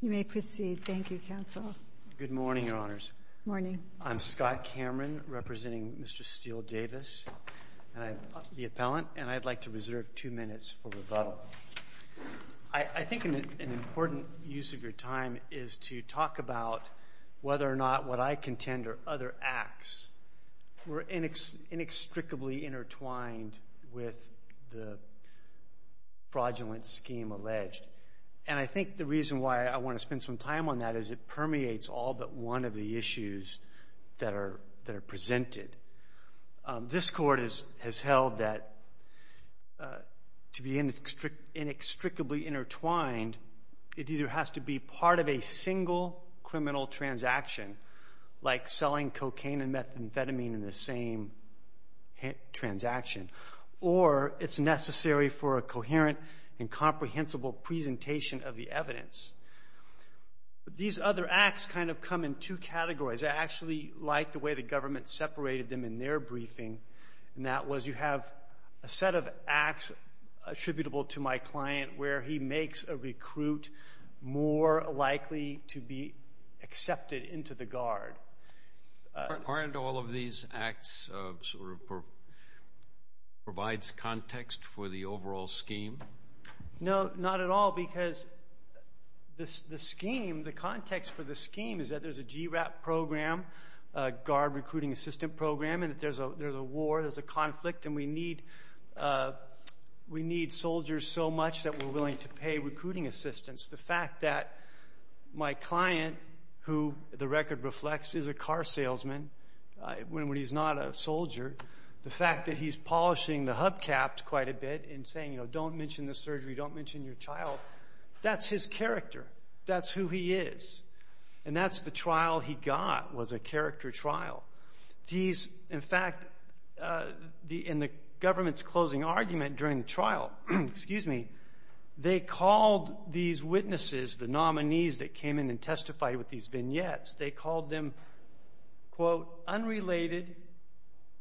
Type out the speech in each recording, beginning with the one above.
You may proceed. Thank you, Counsel. Good morning, Your Honors. Morning. I'm Scott Cameron, representing Mr. Steel Davis, the appellant, and I'd like to reserve two minutes for rebuttal. I think an important use of your time is to talk about whether or not what I contend are other acts were inextricably intertwined with the fraudulent scheme alleged, and I think the reason why I want to spend some time on that is it permeates all but one of the issues that are presented. This Court has held that to be inextricably intertwined, it either has to be part of a single criminal transaction, like selling cocaine and tobacco, or it's necessary for a coherent and comprehensible presentation of the evidence. These other acts kind of come in two categories. I actually like the way the government separated them in their briefing, and that was you have a set of acts attributable to my client where he makes a recruit more likely to be accepted into the guard. Aren't all of these acts sort of provides context for the overall scheme? No, not at all, because the scheme, the context for the scheme is that there's a GRAP program, Guard Recruiting Assistant program, and that there's a war, there's a conflict, and we need soldiers so much that we're willing to pay recruiting assistants. The fact that my client, who the record reflects is a car salesman when he's not a soldier, the fact that he's polishing the hubcaps quite a bit and saying don't mention the surgery, don't mention your child, that's his character. That's who he is, and that's the trial he got was a character trial. In fact, in the government's closing argument during the trial, they called these witnesses, the nominees that came in and testified with these vignettes, they called them unrelated,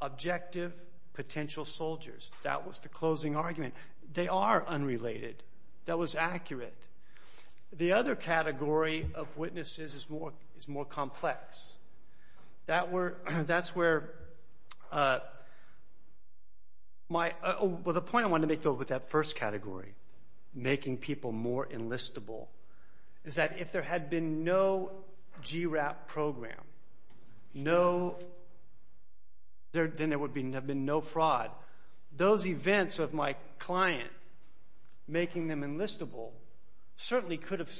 objective, potential soldiers. That was the closing argument. They are unrelated. That was accurate. The other category of witnesses is more complex. That's where the point I want to make with that first category, making people more enlistable, is that if there had been no GRAP program, then there would have been no fraud. Those events of my client making them enlistable certainly could have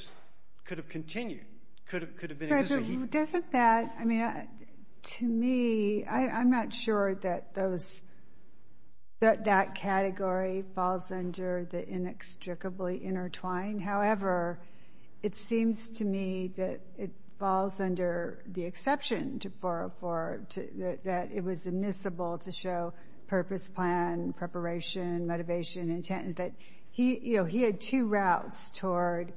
continued. To me, I'm not sure that that category falls under the inextricably intertwined. However, it seems to me that it falls under the exception that it was admissible to show purpose, plan, preparation, motivation, intent. He had two routes toward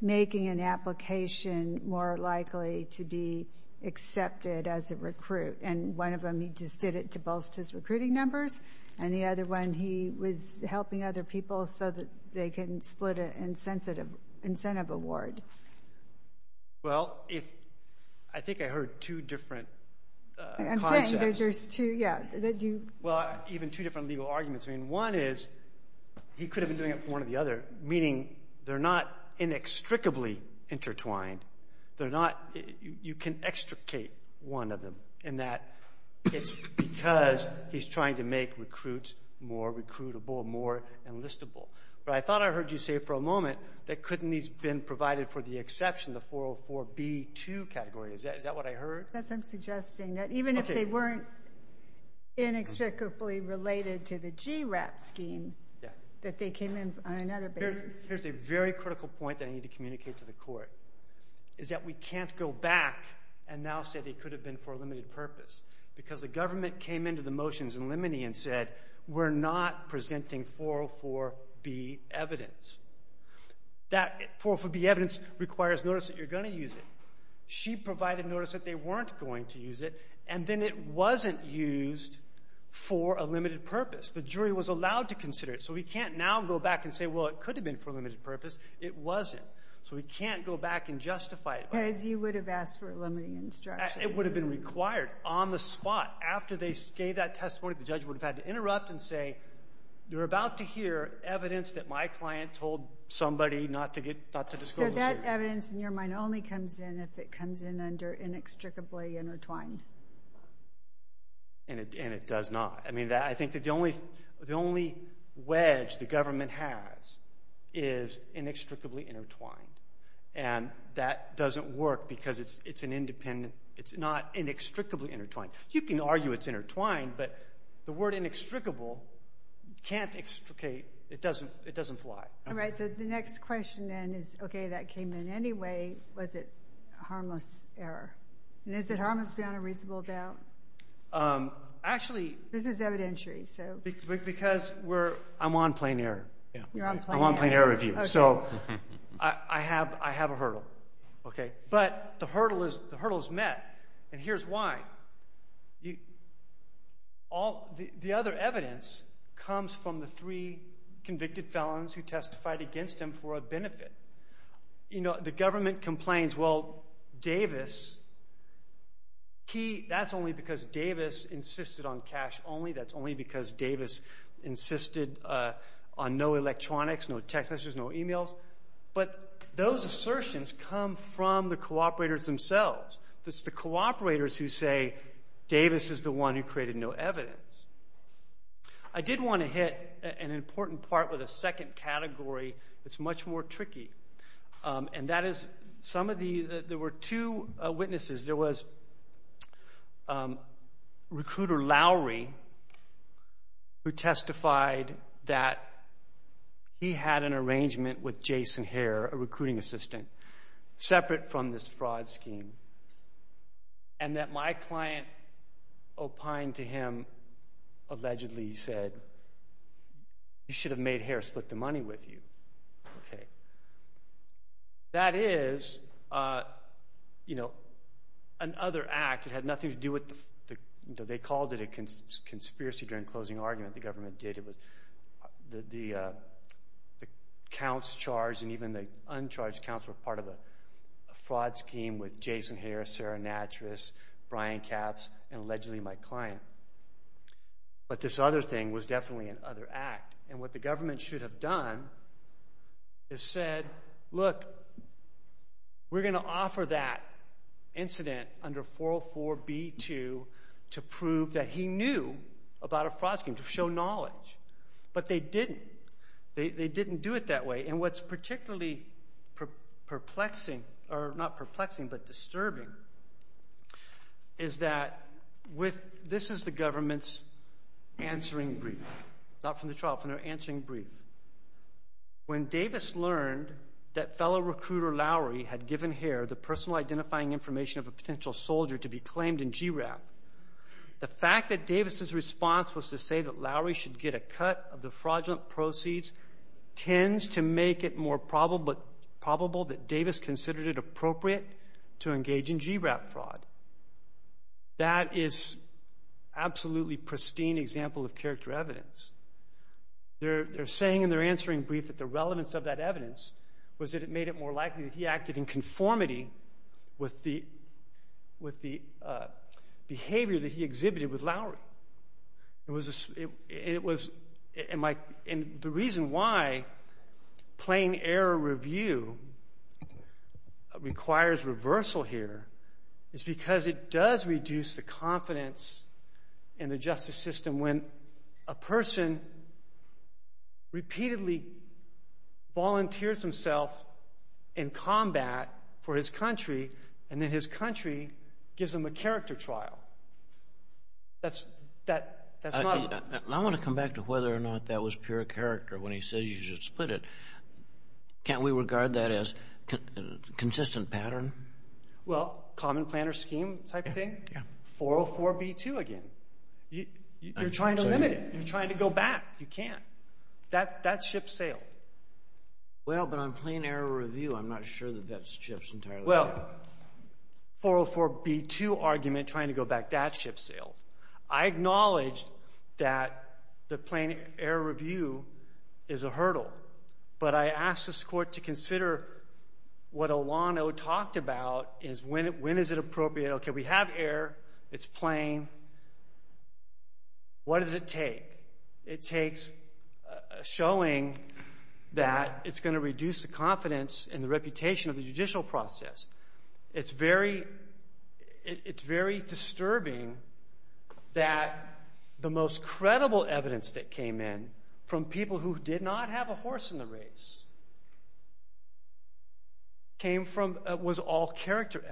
making an application more likely to be accepted as a recruit. One of them, he just did it to bolster his recruiting numbers. The other one, he was helping other people so that they can split an incentive award. Well, I think I heard two different concepts. I'm saying there's two, yeah. One is he could have been doing it for one or the other, meaning they're not inextricably intertwined. You can extricate one of them in that it's because he's trying to make recruits more recruitable, more the exception, the 404B2 category. Is that what I heard? Even if they weren't inextricably related to the GRAP scheme, that they came in on another basis. Here's a very critical point that I need to communicate to the court, is that we can't go back and now say they could have been for a limited purpose because the government came into the motions in limine and said, we're not presenting 404B evidence. That 404B evidence requires notice that you're going to use it. She provided notice that they weren't going to use it, and then it wasn't used for a limited purpose. The jury was allowed to consider it. So we can't now go back and say, well, it could have been for a limited purpose. It wasn't. So we can't go back and justify it. Because you would have asked for a limiting instruction. It would have been required on the spot. After they gave that testimony, the judge would have had to interrupt and say, you're about to hear evidence that my client told somebody not to disclose. So that evidence in your mind only comes in if it comes in under inextricably intertwined. And it does not. I mean, I think that the only wedge the government has is inextricably intertwined. And that doesn't work because it's not inextricably intertwined. You can argue it's intertwined, but the word inextricable can't extricate. It doesn't fly. Was it a harmless error? And is it harmless beyond a reasonable doubt? This is evidentiary. Because I'm on plain error. I'm on plain error review. So I have a hurdle. But the hurdle is met. And here's why. The other evidence comes from the three convicted felons who testified against him for a benefit. The government complains, well, Davis, that's only because Davis insisted on cash only. That's only because Davis insisted on no electronics, no text messages, no e-mails. But those assertions come from the cooperators themselves. It's the cooperators who say Davis is the one who created no evidence. I did want to hit an important part with a second category that's much more There was recruiter Lowry who testified that he had an arrangement with Jason Hare, a recruiting assistant, separate from this fraud scheme. And that my client opined to him, allegedly said, you should have made Hare split the money with you. That is an other act. It had nothing to do with, they called it a conspiracy during the closing argument the government did. The counts charged and even the uncharged counts were part of a fraud scheme with Jason Hare, Sarah Natras, Brian Capps, and allegedly my client. But this other thing was definitely an other act. And what the government should have done is said, look, we're going to offer that incident under 404B2 to prove that he knew about a fraud scheme, to show knowledge. But they didn't. They didn't do it that way. And what's particularly perplexing, or not perplexing, but disturbing, is that this is the government's answering brief, not from the trial, from their answering brief. When Davis learned that fellow recruiter Lowry had given Hare the personal identifying information of a potential soldier to be claimed in GRAP, the fact that Davis' response was to say that Lowry should get a cut of the fraudulent proceeds tends to make it more probable that Davis considered it appropriate to engage in GRAP fraud. That is absolutely pristine example of character evidence. They're saying in their answering brief that the relevance of that evidence was that it made it more likely that he acted in conformity with the behavior that he exhibited with Lowry. And the reason why plain error review requires reversal here is because it does reduce the confidence in the justice system when a person repeatedly volunteers himself in combat for his country, and then his I want to come back to whether or not that was pure character when he says you should split it. Can't we regard that as a consistent pattern? Well, common plan or scheme type of thing? 404B2 again. You're trying to limit it. You're trying to go back. You can't. That ship sailed. Well, but on plain error review, I'm not sure that that ship's entirely... Well, 404B2 argument, trying to go back, that ship sailed. I acknowledge that the plain error review is a hurdle, but I ask this Court to consider what Olano talked about is when is it appropriate? Okay, we have error. It's plain. What does it take? It takes showing that it's going to reduce the confidence in the reputation of the judicial process. It's very disturbing that the most credible evidence that came in from people who did not have a horse in the race was all character evidence.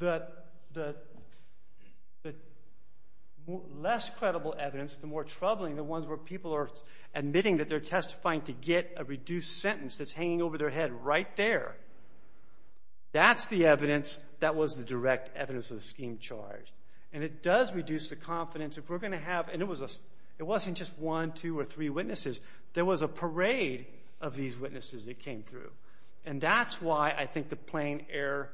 The less credible evidence, the more troubling the ones where people are admitting that they're testifying to get a reduced sentence that's hanging over their head right there. That's the evidence that was the direct evidence of the scheme charged, and it does reduce the confidence. It wasn't just one, two, or three witnesses. There was a parade of these witnesses that came through, and that's why I think the plain error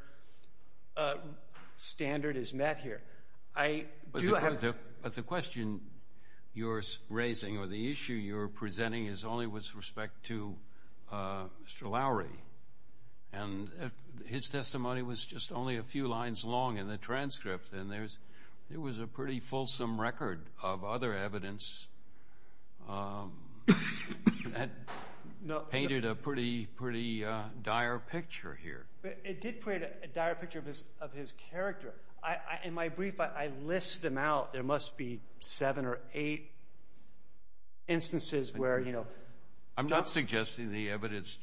standard is met here. But the question you're raising or the issue you're presenting is only with respect to Mr. Lowery, and his testimony was just only a few lines long in the transcript, and there was a pretty fulsome record of other evidence that painted a pretty dire picture here. It did create a dire picture of his character. In my brief, I list them out. There must be seven or eight instances where... I'm not suggesting the evidence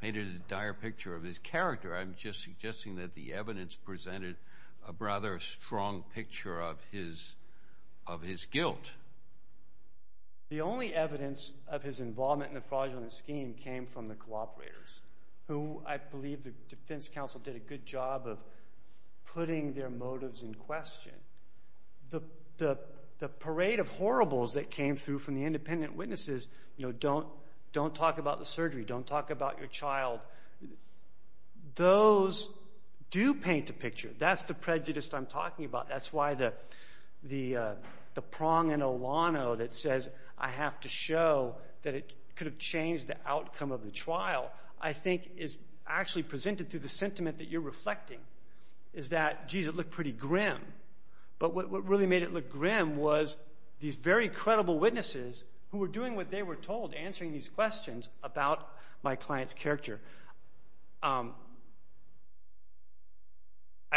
painted a dire picture of his character. I'm just suggesting that the evidence presented a rather strong picture of his guilt. The only evidence of his involvement in the fraudulent scheme came from the cooperators, who I believe the defense counsel did a good job of putting their motives in question. The parade of horribles that came through from the independent witnesses, you know, don't talk about the surgery, don't talk about your child, those do paint a picture. That's the prejudice I'm talking about. That's why the prong in Olano that says, I have to show that it could have changed the outcome of the trial, I think is actually presented through the sentiment that you're reflecting, is that, geez, it looked pretty grim. But what really made it look grim was these very credible witnesses who were doing what they were told, answering these questions about my client's character. I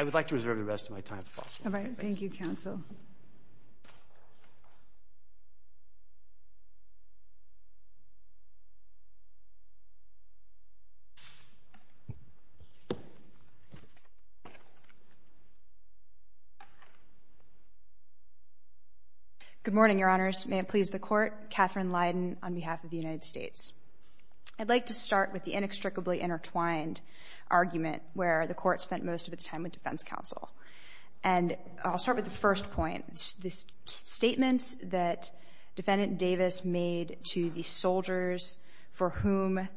would like to reserve the rest of my time for questions. Thank you, counsel. Good morning, Your Honors. May it please the Court. I'd like to start with the inextricably intertwined argument where the Court spent most of its time with defense counsel. And I'll start with the first point, the statements that Defendant Davis made to the soldiers for whom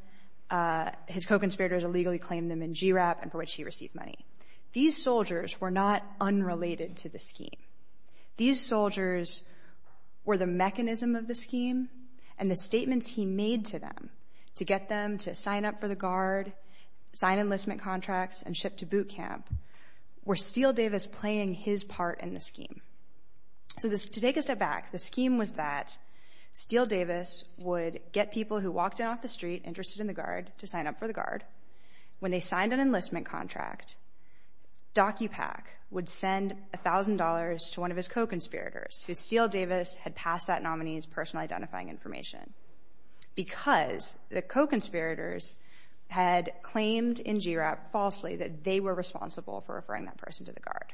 his co-conspirators illegally claimed them in GIRAP and for which he received money. These soldiers were not unrelated to the scheme. These soldiers were the mechanism of the scheme, and the statements he made to them to get them to sign up for the Guard, sign enlistment contracts, and ship to boot camp, were Steele Davis playing his part in the scheme. So to take a step back, the scheme was that Steele Davis would get people who walked in off the street interested in the Guard to sign up for the Guard. When they signed an enlistment contract, Docupack would send $1,000 to one of his co-conspirators whose Steele Davis had passed that nominee's personal identifying information because the co-conspirators had claimed in GIRAP falsely that they were responsible for referring that person to the Guard.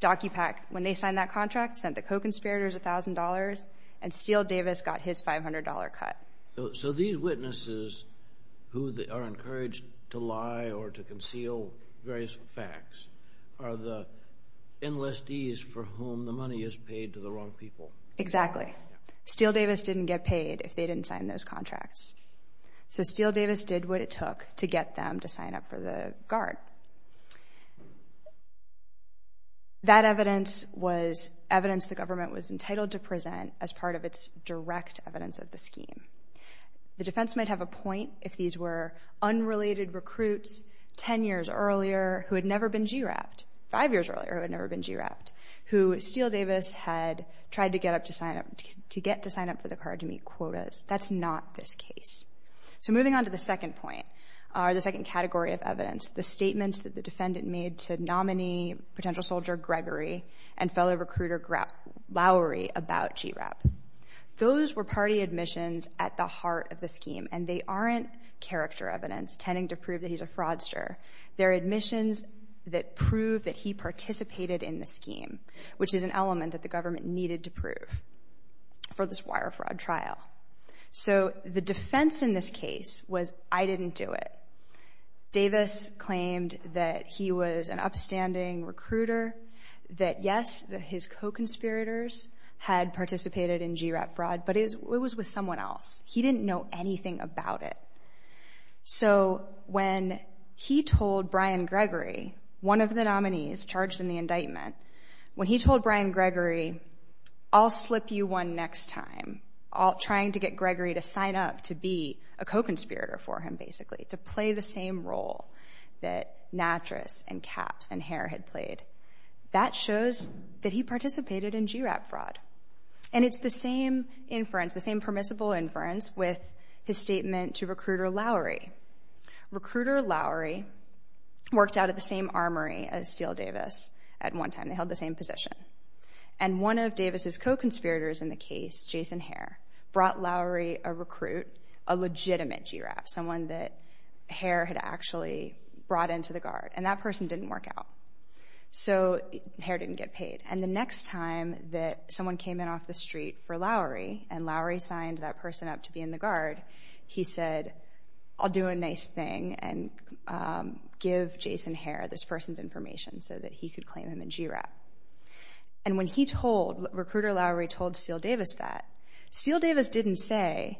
Docupack, when they signed that contract, sent the co-conspirators $1,000, and Steele Davis got his $500 cut. So these witnesses who are encouraged to lie or to conceal various facts are the enlistees for whom the money is paid to the wrong people. Exactly. Steele Davis didn't get paid if they didn't sign those contracts. So Steele Davis did what it took to get them to sign up for the Guard. That evidence was evidence the government was entitled to present as part of its direct evidence of the scheme. The defense might have a point if these were unrelated recruits 10 years earlier who had never been GIRAP'd, 5 years earlier who had never been GIRAP'd, who Steele Davis had tried to get to sign up for the Guard to meet quotas. That's not this case. So moving on to the second point or the second category of evidence, the statements that the defendant made to nominee potential soldier Gregory and fellow recruiter Lowry about GIRAP. Those were party admissions at the heart of the scheme, and they aren't character evidence tending to prove that he's a fraudster. They're admissions that prove that he participated in the scheme, which is an element that the government needed to prove for this wire fraud trial. So the defense in this case was I didn't do it. Davis claimed that he was an upstanding recruiter, that, yes, his co-conspirators had participated in GIRAP fraud, but it was with someone else. He didn't know anything about it. So when he told Brian Gregory, one of the nominees charged in the indictment, when he told Brian Gregory, I'll slip you one next time, trying to get Gregory to sign up to be a co-conspirator for him, basically, to play the same role that Natras and Capps and Hare had played, that shows that he participated in GIRAP fraud. And it's the same inference, the same permissible inference, with his statement to recruiter Lowry. Recruiter Lowry worked out of the same armory as Steele Davis at one time. They held the same position. And one of Davis's co-conspirators in the case, Jason Hare, brought Lowry a recruit, a legitimate GIRAP, someone that Hare had actually brought into the guard, and that person didn't work out. So Hare didn't get paid. And the next time that someone came in off the street for Lowry and Lowry signed that person up to be in the guard, he said, I'll do a nice thing and give Jason Hare this person's information so that he could claim him in GIRAP. And when he told, recruiter Lowry told Steele Davis that, Steele Davis didn't say,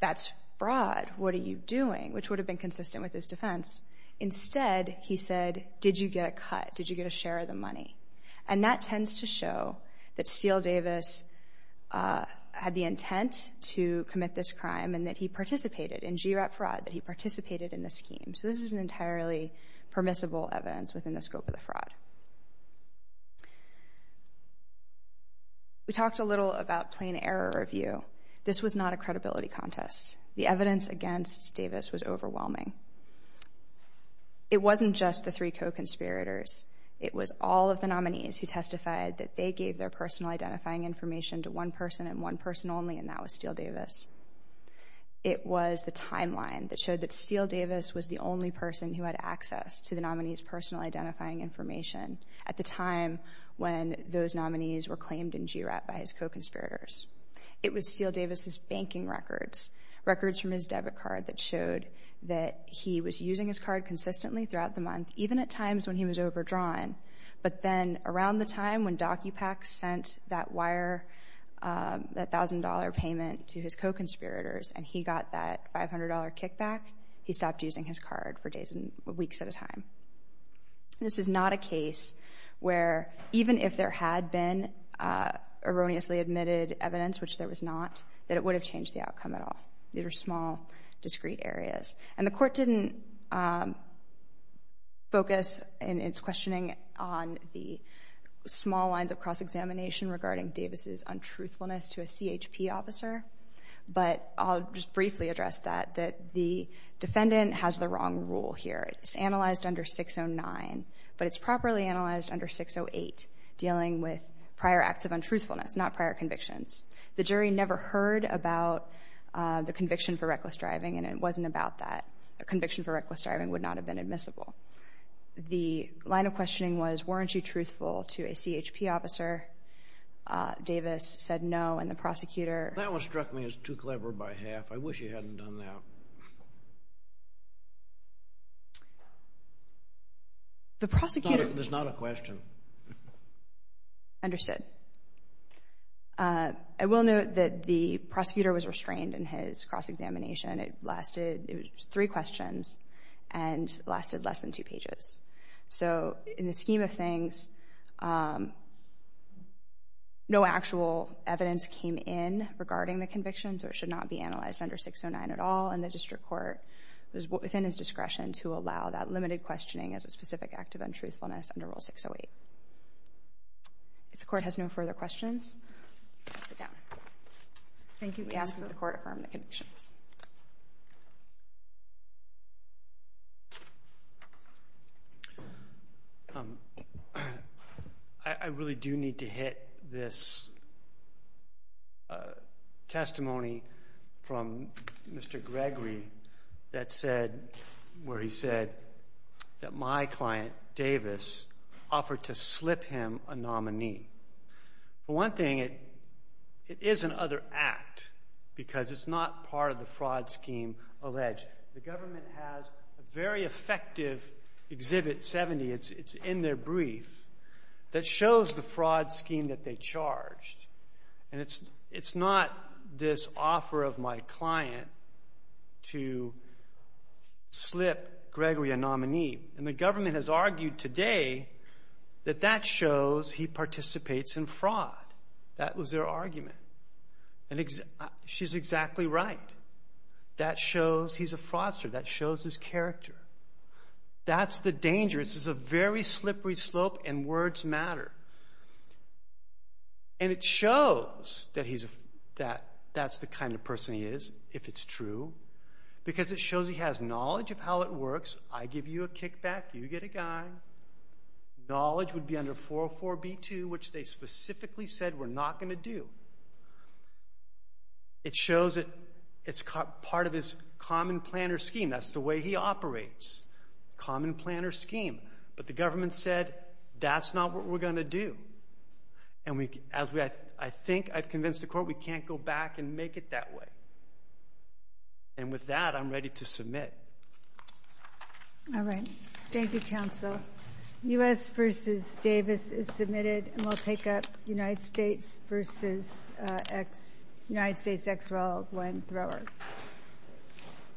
That's fraud. What are you doing? Which would have been consistent with his defense. Instead, he said, Did you get a cut? Did you get a share of the money? And that tends to show that Steele Davis had the intent to commit this crime and that he participated in GIRAP fraud, that he participated in the scheme. So this is an entirely permissible evidence within the scope of the fraud. We talked a little about plain error review. This was not a credibility contest. The evidence against Davis was overwhelming. It wasn't just the three co-conspirators. It was all of the nominees who testified that they gave their personal identifying information to one person and one person only, and that was Steele Davis. It was the timeline that showed that Steele Davis was the only person who had access to the nominee's personal identifying information at the time when those nominees were claimed in GIRAP by his co-conspirators. It was Steele Davis' banking records, records from his debit card that showed that he was using his card consistently throughout the month, even at times when he was overdrawn. But then around the time when Docupax sent that wire, that $1,000 payment to his co-conspirators and he got that $500 kickback, he stopped using his card for days and weeks at a time. This is not a case where even if there had been erroneously admitted evidence, which there was not, that it would have changed the outcome at all. These are small, discrete areas. And the court didn't focus in its questioning on the small lines of cross-examination regarding Davis' untruthfulness to a CHP officer, but I'll just briefly address that, that the defendant has the wrong rule here. It's analyzed under 609, but it's properly analyzed under 608, dealing with prior acts of untruthfulness, not prior convictions. The jury never heard about the conviction for reckless driving and it wasn't about that. A conviction for reckless driving would not have been admissible. The line of questioning was, weren't you truthful to a CHP officer? Davis said no, and the prosecutor... That one struck me as too clever by half. I wish you hadn't done that. The prosecutor... It's not a question. Understood. I will note that the prosecutor was restrained in his cross-examination. It lasted three questions and lasted less than two pages. So in the scheme of things, no actual evidence came in regarding the convictions or should not be analyzed under 609 at all, and the district court was within its discretion to allow that limited questioning as a specific act of untruthfulness under Rule 608. If the court has no further questions, please sit down. Thank you. We ask that the court affirm the convictions. I really do need to hit this testimony from Mr. Gregory where he said that my client, Davis, offered to slip him a nominee. For one thing, it is another act because it's not part of the fraud scheme alleged. The government has a very effective Exhibit 70. It's in their brief that shows the fraud scheme that they charged, and it's not this offer of my client to slip Gregory a nominee, and the government has argued today that that shows he participates in fraud. That was their argument, and she's exactly right. That shows he's a fraudster. That shows his character. That's the danger. This is a very slippery slope, and words matter, and it shows that that's the kind of person he is, if it's true, because it shows he has knowledge of how it works. I give you a kickback. You get a guy. Knowledge would be under 404B2, which they specifically said we're not going to do. It shows that it's part of his common-planner scheme. That's the way he operates, common-planner scheme, but the government said that's not what we're going to do, and I think I've convinced the court we can't go back and make it that way, and with that, I'm ready to submit. All right. Thank you, counsel. U.S. v. Davis is submitted, and we'll take up United States v. United States ex-rel of one thrower.